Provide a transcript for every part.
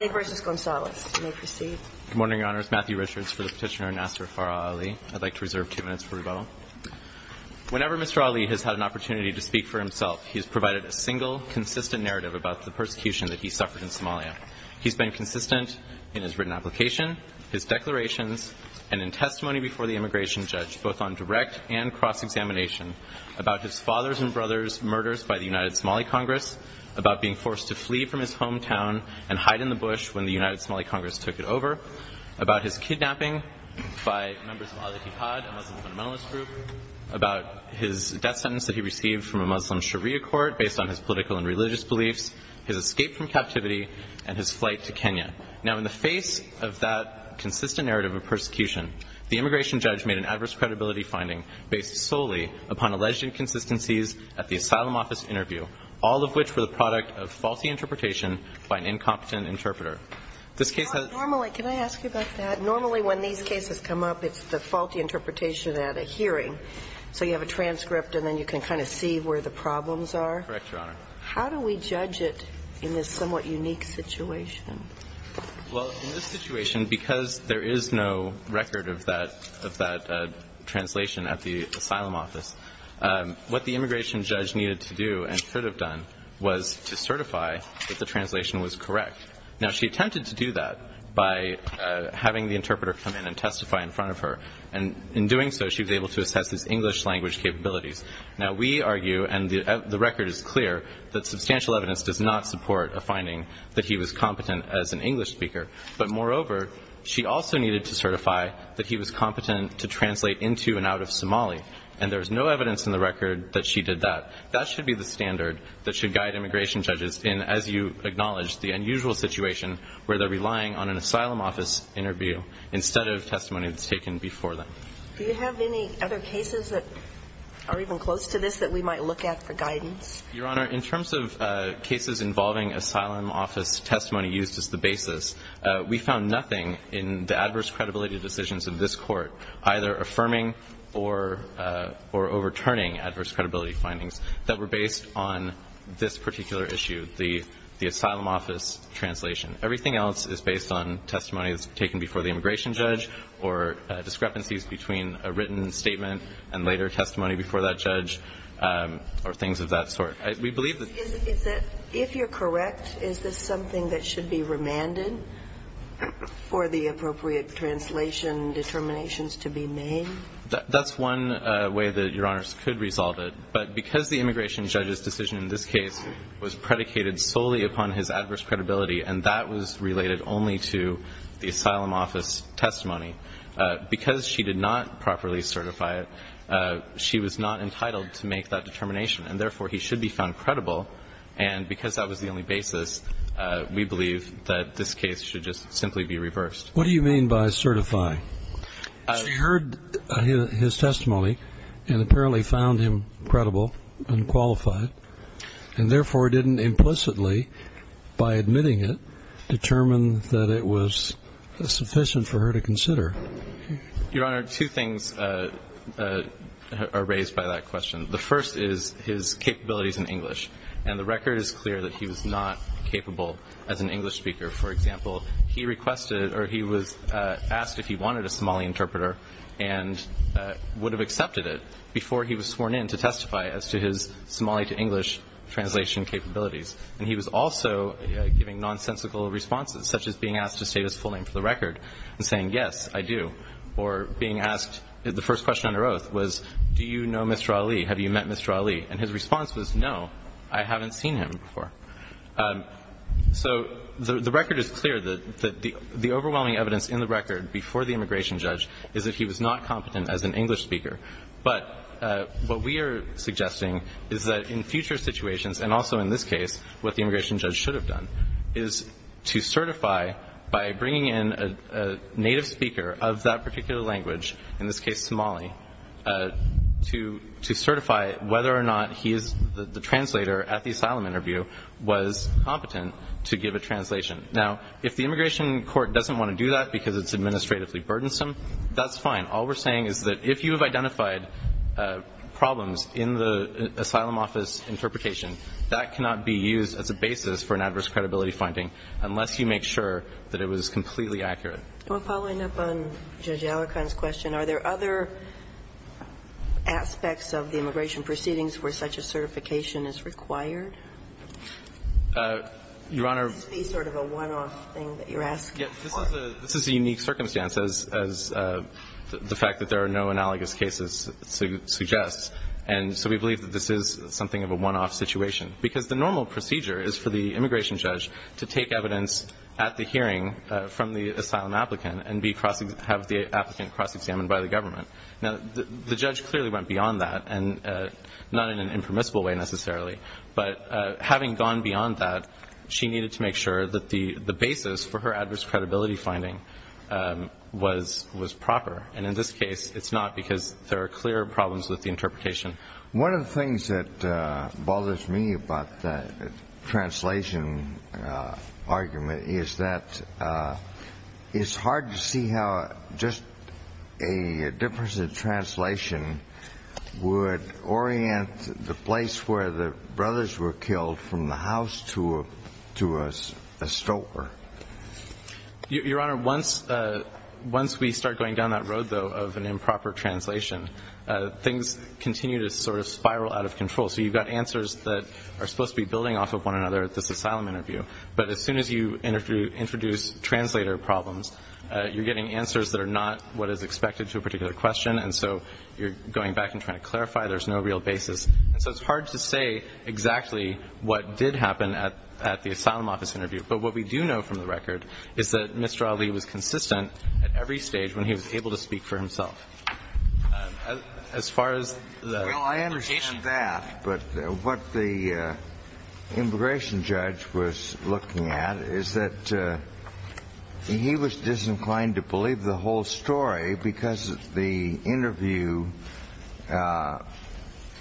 Good morning, Your Honours. Matthew Richards for the petitioner Nasser Farah Ali. I'd like to reserve two minutes for rebuttal. Whenever Mr. Ali has had an opportunity to speak for himself, he has provided a single, consistent narrative about the persecution that he suffered in Somalia. He's been consistent in his written application, his declarations, and in testimony before the immigration judge, both on direct and cross-examination, about his father's and brother's murders by the United Somali Congress, about being forced to flee from his hometown and hide in the bush when the United Somali Congress took it over, about his kidnapping by members of Al-Aqqad, a Muslim fundamentalist group, about his death sentence that he received from a Muslim sharia court based on his political and religious beliefs, his escape from captivity, and his flight to Kenya. Now, in the face of that consistent narrative of persecution, the immigration judge made an adverse credibility finding based solely upon alleged inconsistencies at the asylum office interview, all of which were the product of faulty interpretation by an incompetent interpreter. This case has – Normally, can I ask you about that? Normally, when these cases come up, it's the faulty interpretation at a hearing. So you have a transcript, and then you can kind of see where the problems are? Correct, Your Honour. How do we judge it in this somewhat unique situation? Well, in this situation, because there is no record of that translation at the asylum office, what the immigration judge needed to do and should have done was to certify that the translation was correct. Now, she attempted to do that by having the interpreter come in and testify in front of her. And in doing so, she was able to assess his English-language capabilities. Now, we argue, and the record is clear, that substantial evidence does not support a finding that he was competent as an English speaker. But moreover, she also needed to certify that he was competent to translate into and out of Somali. And there is no evidence in the record that she did that. That should be the standard that should guide immigration judges in, as you acknowledge, the unusual situation where they're relying on an asylum office interview instead of testimony that's taken before them. Do you have any other cases that are even close to this that we might look at for guidance? Your Honour, in terms of cases involving asylum office testimony used as the basis, we found nothing in the adverse credibility decisions of this Court either affirming or overturning adverse credibility findings that were based on this particular issue, the asylum office translation. Everything else is based on testimonies taken before the immigration judge or discrepancies between a written statement and later testimony before that judge or things of that sort. We believe that the ---- If you're correct, is this something that should be remanded for the appropriate translation determinations to be made? That's one way that Your Honour could resolve it. But because the immigration judge's decision in this case was predicated solely upon his adverse credibility and that was related only to the asylum office testimony, because she did not properly certify it, she was not entitled to make that determination and, therefore, he should be found credible. And because that was the only basis, we believe that this case should just simply be reversed. What do you mean by certify? She heard his testimony and apparently found him credible and qualified and, therefore, didn't implicitly, by admitting it, determine that it was sufficient for her to consider. Your Honour, two things are raised by that question. The first is his capabilities in English, and the record is clear that he was not capable as an English speaker. For example, he requested or he was asked if he wanted a Somali interpreter and would have accepted it before he was sworn in to testify as to his Somali to English translation capabilities. And he was also giving nonsensical responses, such as being asked to state his full name for the record and saying, yes, I do, or being asked the first question on her oath was, do you know Mr. Ali? Have you met Mr. Ali? And his response was, no, I haven't seen him before. So the record is clear that the overwhelming evidence in the record before the immigration judge is that he was not competent as an English speaker. But what we are suggesting is that in future situations, and also in this case, what the immigration judge should have done is to certify by bringing in a native speaker of that particular language, in this case Somali, to certify whether or not he is the translator at the asylum interview, was competent to give a translation. Now, if the immigration court doesn't want to do that because it's administratively burdensome, that's fine. All we're saying is that if you have identified problems in the asylum office interpretation, that cannot be used as a basis for an adverse credibility finding unless you make sure that it was completely accurate. I'm following up on Judge Alicorn's question. Are there other aspects of the immigration proceedings where such a certification is required? Your Honor. Is this sort of a one-off thing that you're asking for? This is a unique circumstance, as the fact that there are no analogous cases suggests. And so we believe that this is something of a one-off situation, because the normal procedure is for the immigration judge to take evidence at the hearing from the asylum applicant and have the applicant cross-examined by the government. Now, the judge clearly went beyond that, and not in an impermissible way necessarily. But having gone beyond that, she needed to make sure that the basis for her adverse credibility finding was proper. And in this case, it's not because there are clear problems with the interpretation. One of the things that bothers me about the translation argument is that it's hard to see how just a difference in translation would orient the place where the brothers were killed from the house to a store. Your Honor, once we start going down that road, though, of an improper translation, things continue to sort of spiral out of control. So you've got answers that are supposed to be building off of one another at this asylum interview. But as soon as you introduce translator problems, you're getting answers that are not what is expected to a particular question. And so you're going back and trying to clarify. There's no real basis. And so it's hard to say exactly what did happen at the asylum office interview. But what we do know from the record is that Mr. Ali was consistent at every stage when he was able to speak for himself. Well, I understand that. But what the immigration judge was looking at is that he was disinclined to believe the whole story because the interview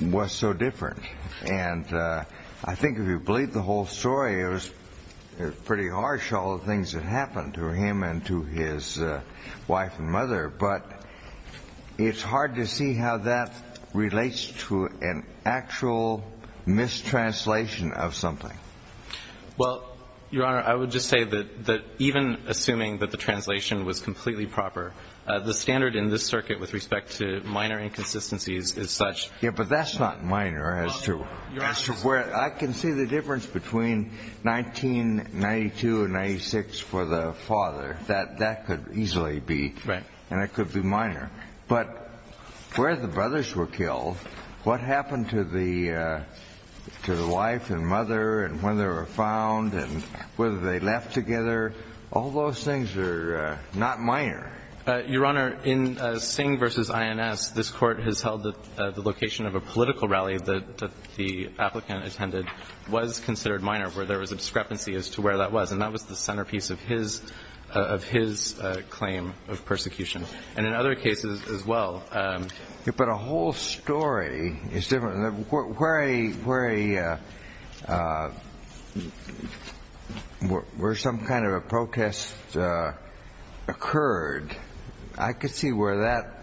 was so different. And I think if you believe the whole story, it was pretty harsh, all the things that happened to him and to his wife and mother. But it's hard to see how that relates to an actual mistranslation of something. Well, Your Honor, I would just say that even assuming that the translation was completely proper, the standard in this circuit with respect to minor inconsistencies is such. Yeah, but that's not minor as to where I can see the difference between 1992 and 96 for the father. That could easily be. Right. And it could be minor. But where the brothers were killed, what happened to the wife and mother and when they were found and whether they left together, all those things are not minor. Your Honor, in Singh v. INS, this Court has held that the location of a political rally that the applicant attended was considered minor, where there was a discrepancy as to where that was. And that was the centerpiece of his claim of persecution. And in other cases as well. But a whole story is different. Where some kind of a protest occurred, I could see where that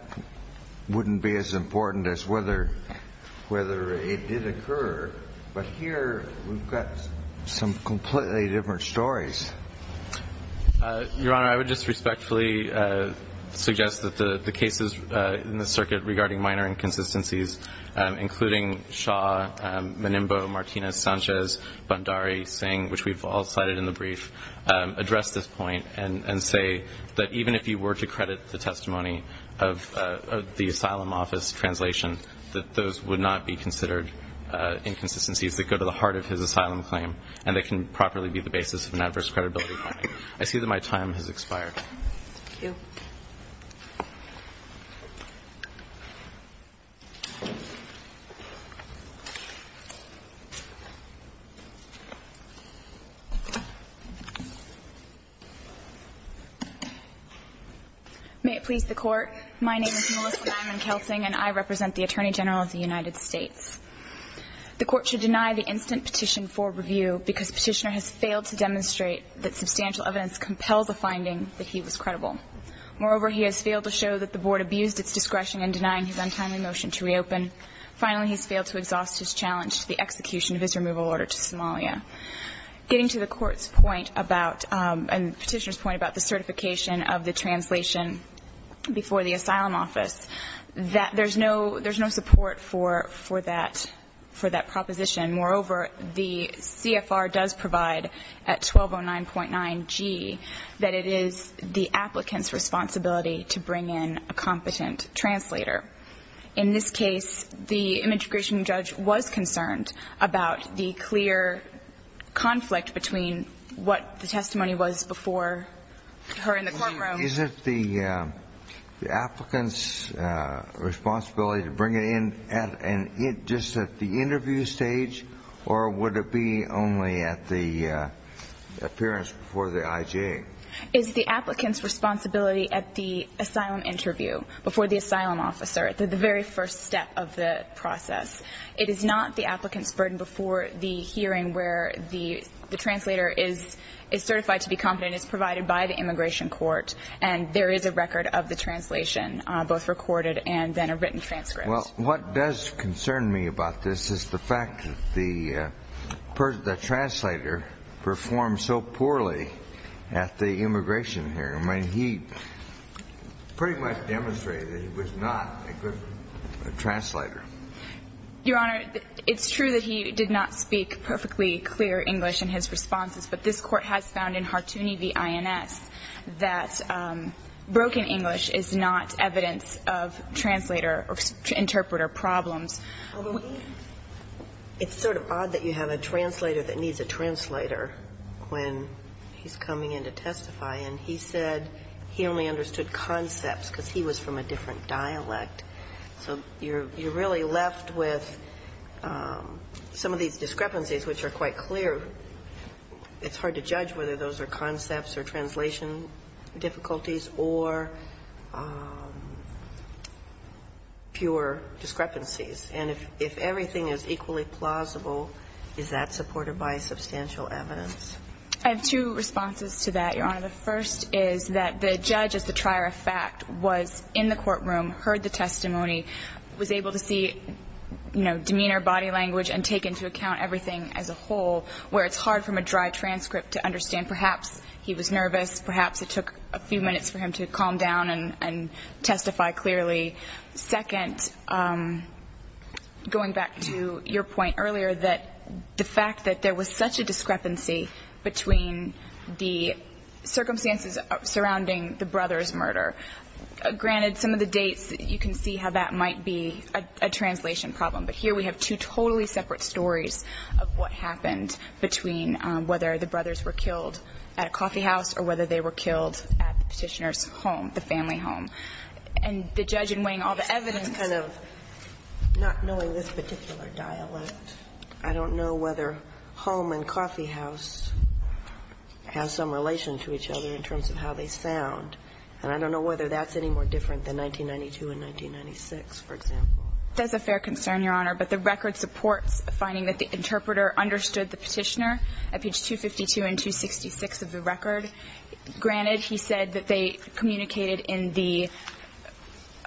wouldn't be as important as whether it did occur. But here we've got some completely different stories. Your Honor, I would just respectfully suggest that the cases in the circuit regarding minor inconsistencies, including Shaw, Menimbo, Martinez, Sanchez, Bhandari, Singh, which we've all cited in the brief, address this point and say that even if you were to credit the testimony of the asylum office translation, that those would not be considered inconsistencies that go to the heart of his asylum claim and that can properly be the basis of an adverse credibility finding. I see that my time has expired. Thank you. May it please the Court. My name is Melissa Nyman-Kelsing, and I represent the Attorney General of the United States. The Court should deny the instant petition for review because Petitioner has failed to demonstrate that substantial evidence compels a finding that he was credible. Moreover, he has failed to show that the Board abused its discretion in denying his untimely motion to reopen. Finally, he's failed to exhaust his challenge to the execution of his removal order to Somalia. Getting to the Court's point about and Petitioner's point about the certification of the translation before the asylum office, there's no support for that proposition. Moreover, the CFR does provide at 1209.9g that it is the applicant's responsibility to bring in a competent translator. In this case, the immigration judge was concerned about the clear conflict between what the testimony was before her in the courtroom. Is it the applicant's responsibility to bring it in just at the interview stage, or would it be only at the appearance before the IJ? It's the applicant's responsibility at the asylum interview before the asylum officer, the very first step of the process. It is not the applicant's burden before the hearing where the translator is certified to be competent. It's provided by the immigration court, and there is a record of the translation, both recorded and then a written transcript. Well, what does concern me about this is the fact that the translator performed so poorly at the immigration hearing. I mean, he pretty much demonstrated that he was not a good translator. Your Honor, it's true that he did not speak perfectly clear English in his responses, but this Court has found in Hartooni v. INS that broken English is not evidence of translator or interpreter problems. It's sort of odd that you have a translator that needs a translator when he's coming in to testify, and he said he only understood concepts because he was from a different dialect. So you're really left with some of these discrepancies, which are quite clear. It's hard to judge whether those are concepts or translation difficulties or pure discrepancies. And if everything is equally plausible, is that supported by substantial evidence? I have two responses to that, Your Honor. The first is that the judge, as the trier of fact, was in the courtroom, heard the testimony, was able to see, you know, demeanor, body language, and take into account everything as a whole, where it's hard from a dry transcript to understand. And perhaps he was nervous. Perhaps it took a few minutes for him to calm down and testify clearly. Second, going back to your point earlier that the fact that there was such a discrepancy between the circumstances surrounding the brothers' murder, granted some of the dates, you can see how that might be a translation problem. But here we have two totally separate stories of what happened between whether the brothers were killed at a coffeehouse or whether they were killed at the Petitioner's home, the family home. And the judge in weighing all the evidence kind of not knowing this particular dialect, I don't know whether home and coffeehouse have some relation to each other in terms of how they sound. And I don't know whether that's any more different than 1992 and 1996, for example. That's a fair concern, Your Honor. But the record supports finding that the interpreter understood the Petitioner at page 252 and 266 of the record. Granted, he said that they communicated in the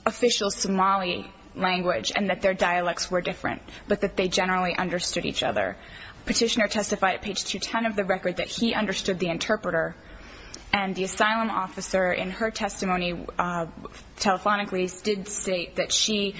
official Somali language and that their dialects were different, but that they generally understood each other. Petitioner testified at page 210 of the record that he understood the interpreter. And the asylum officer in her testimony telephonically did state that she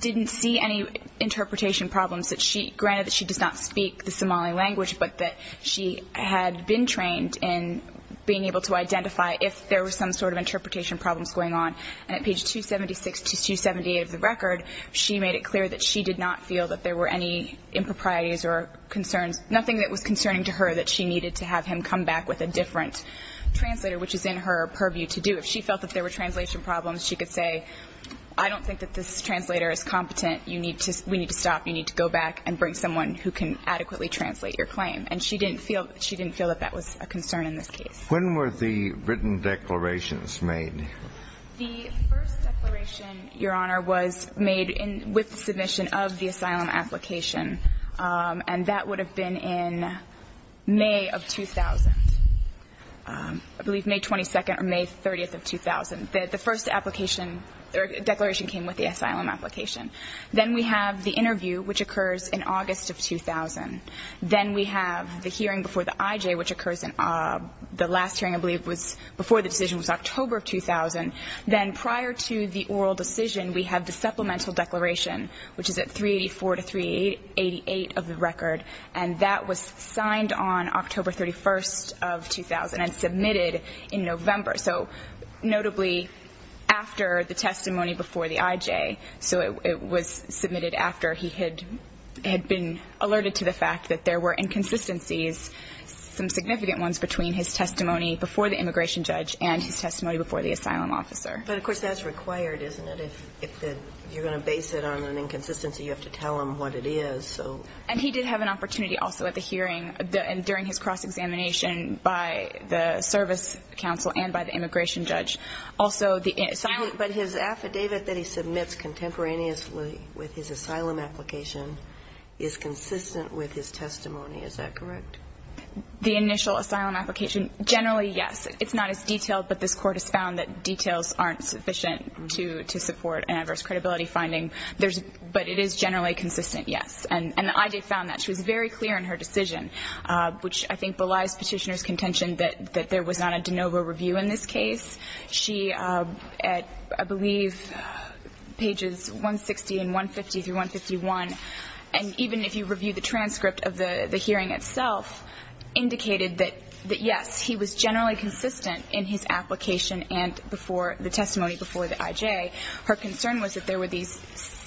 didn't see any interpretation problems, that she, granted that she does not speak the Somali language, but that she had been trained in being able to identify if there were some sort of interpretation problems going on. And at page 276 to 278 of the record, she made it clear that she did not feel that there were any improprieties or concerns, nothing that was concerning to her that she needed to have him come back with a different translator, which is in her purview to do. If she felt that there were translation problems, she could say, I don't think that this translator is competent. We need to stop. You need to go back and bring someone who can adequately translate your claim. And she didn't feel that that was a concern in this case. When were the written declarations made? The first declaration, Your Honor, was made with the submission of the asylum application. And that would have been in May of 2000. I believe May 22nd or May 30th of 2000. The first application or declaration came with the asylum application. Then we have the interview, which occurs in August of 2000. Then we have the hearing before the IJ, which occurs in the last hearing, I believe, was before the decision was October of 2000. Then prior to the oral decision, we have the supplemental declaration, which is at 384 to 388 of the record. And that was signed on October 31st of 2000 and submitted in November. So notably after the testimony before the IJ. So it was submitted after he had been alerted to the fact that there were inconsistencies, some significant ones, between his testimony before the immigration judge and his testimony before the asylum officer. But, of course, that's required, isn't it? If you're going to base it on an inconsistency, you have to tell him what it is, so. And he did have an opportunity also at the hearing during his cross-examination by the service counsel and by the immigration judge. Also, the asylum ---- But his affidavit that he submits contemporaneously with his asylum application is consistent with his testimony. Is that correct? The initial asylum application, generally, yes. It's not as detailed, but this Court has found that details aren't sufficient to support an adverse credibility finding. But it is generally consistent, yes. And the IJ found that. She was very clear in her decision, which I think belies Petitioner's contention that there was not a de novo review in this case. She, I believe, pages 160 and 150 through 151, and even if you review the transcript of the hearing itself, indicated that, yes, he was generally consistent in his application and before the testimony before the IJ. Her concern was that there were these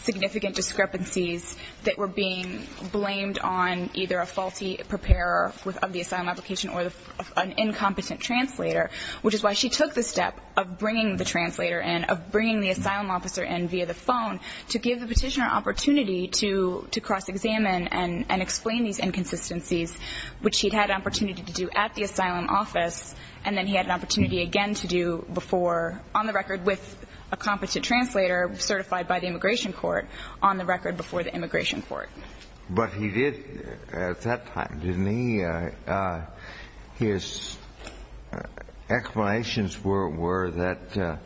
significant discrepancies that were being blamed on either a faulty preparer of the asylum application or an incompetent translator, which is why she took the step of bringing the translator in, of bringing the asylum officer in via the phone, to give the Petitioner an opportunity to cross-examine and explain these inconsistencies, which he'd had an opportunity to do at the asylum office, and then he had an opportunity again to do before, on the record, with a competent translator certified by the Immigration Court, on the record before the Immigration Court. But he did at that time, didn't he? His general explanations were that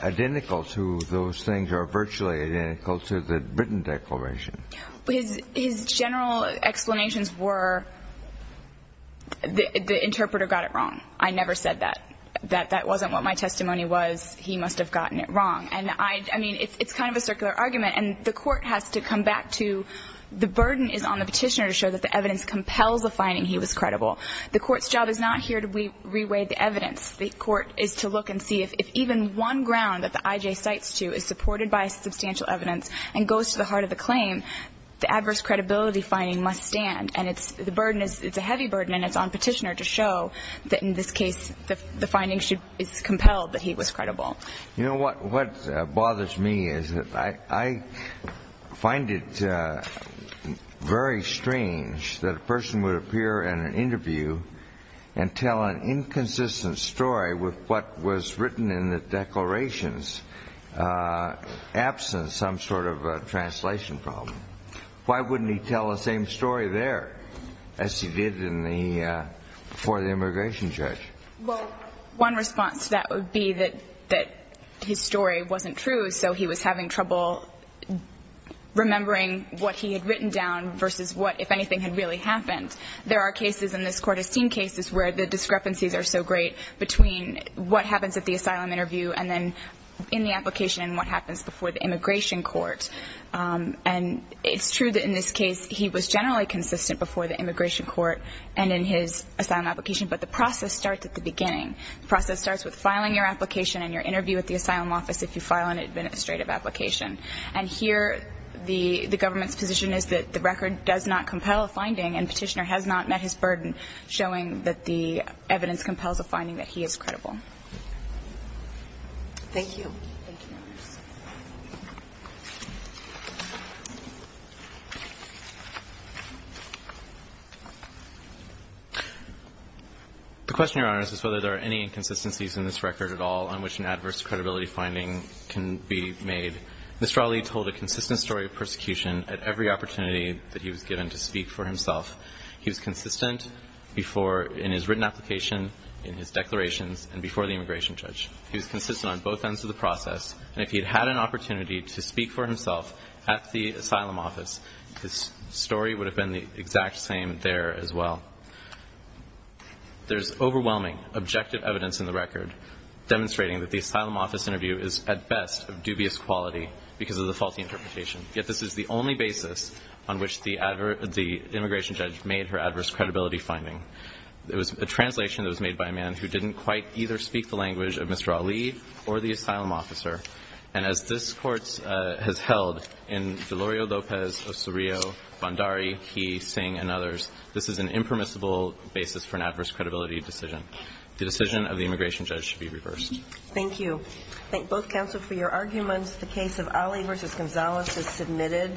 identical to those things are virtually identical to the written declaration. His general explanations were the interpreter got it wrong. I never said that. That that wasn't what my testimony was. He must have gotten it wrong. And I mean, it's kind of a circular argument, and the Court has to come back to the evidence compels the finding he was credible. The Court's job is not here to re-weigh the evidence. The Court is to look and see if even one ground that the IJ cites to is supported by substantial evidence and goes to the heart of the claim, the adverse credibility finding must stand. And it's a heavy burden, and it's on Petitioner to show that, in this case, the finding is compelled that he was credible. You know, what bothers me is that I find it very strange that a person would appear in an interview and tell an inconsistent story with what was written in the declarations, absent some sort of a translation problem. Why wouldn't he tell the same story there as he did before the Immigration Judge? Well, one response to that would be that his story wasn't true, so he was having trouble remembering what he had written down versus what, if anything, had really happened. There are cases, and this Court has seen cases, where the discrepancies are so great between what happens at the asylum interview and then in the application and what happens before the Immigration Court. And it's true that in this case he was generally consistent before the Immigration Court and in his asylum application, but the process starts at the beginning. The process starts with filing your application and your interview at the asylum office if you file an administrative application. And here the government's position is that the record does not compel a finding, and Petitioner has not met his burden, showing that the evidence compels a finding that he is credible. Thank you. Thank you, Your Honors. The question, Your Honors, is whether there are any inconsistencies in this record at all on which an adverse credibility finding can be made. Mr. Ali told a consistent story of persecution at every opportunity that he was given to speak for himself. He was consistent before in his written application, in his declarations, and before the Immigration Judge. and if he had had any inconsistencies, if he had an opportunity to speak for himself at the asylum office, his story would have been the exact same there as well. There's overwhelming objective evidence in the record demonstrating that the asylum office interview is at best of dubious quality because of the faulty interpretation. Yet this is the only basis on which the Immigration Judge made her adverse credibility finding. It was a translation that was made by a man who didn't quite either speak the And as this Court has held in Delorio Lopez, Osorio, Bhandari, He, Singh, and others, this is an impermissible basis for an adverse credibility decision. The decision of the Immigration Judge should be reversed. Thank you. I thank both counsel for your arguments. The case of Ali v. Gonzales is submitted.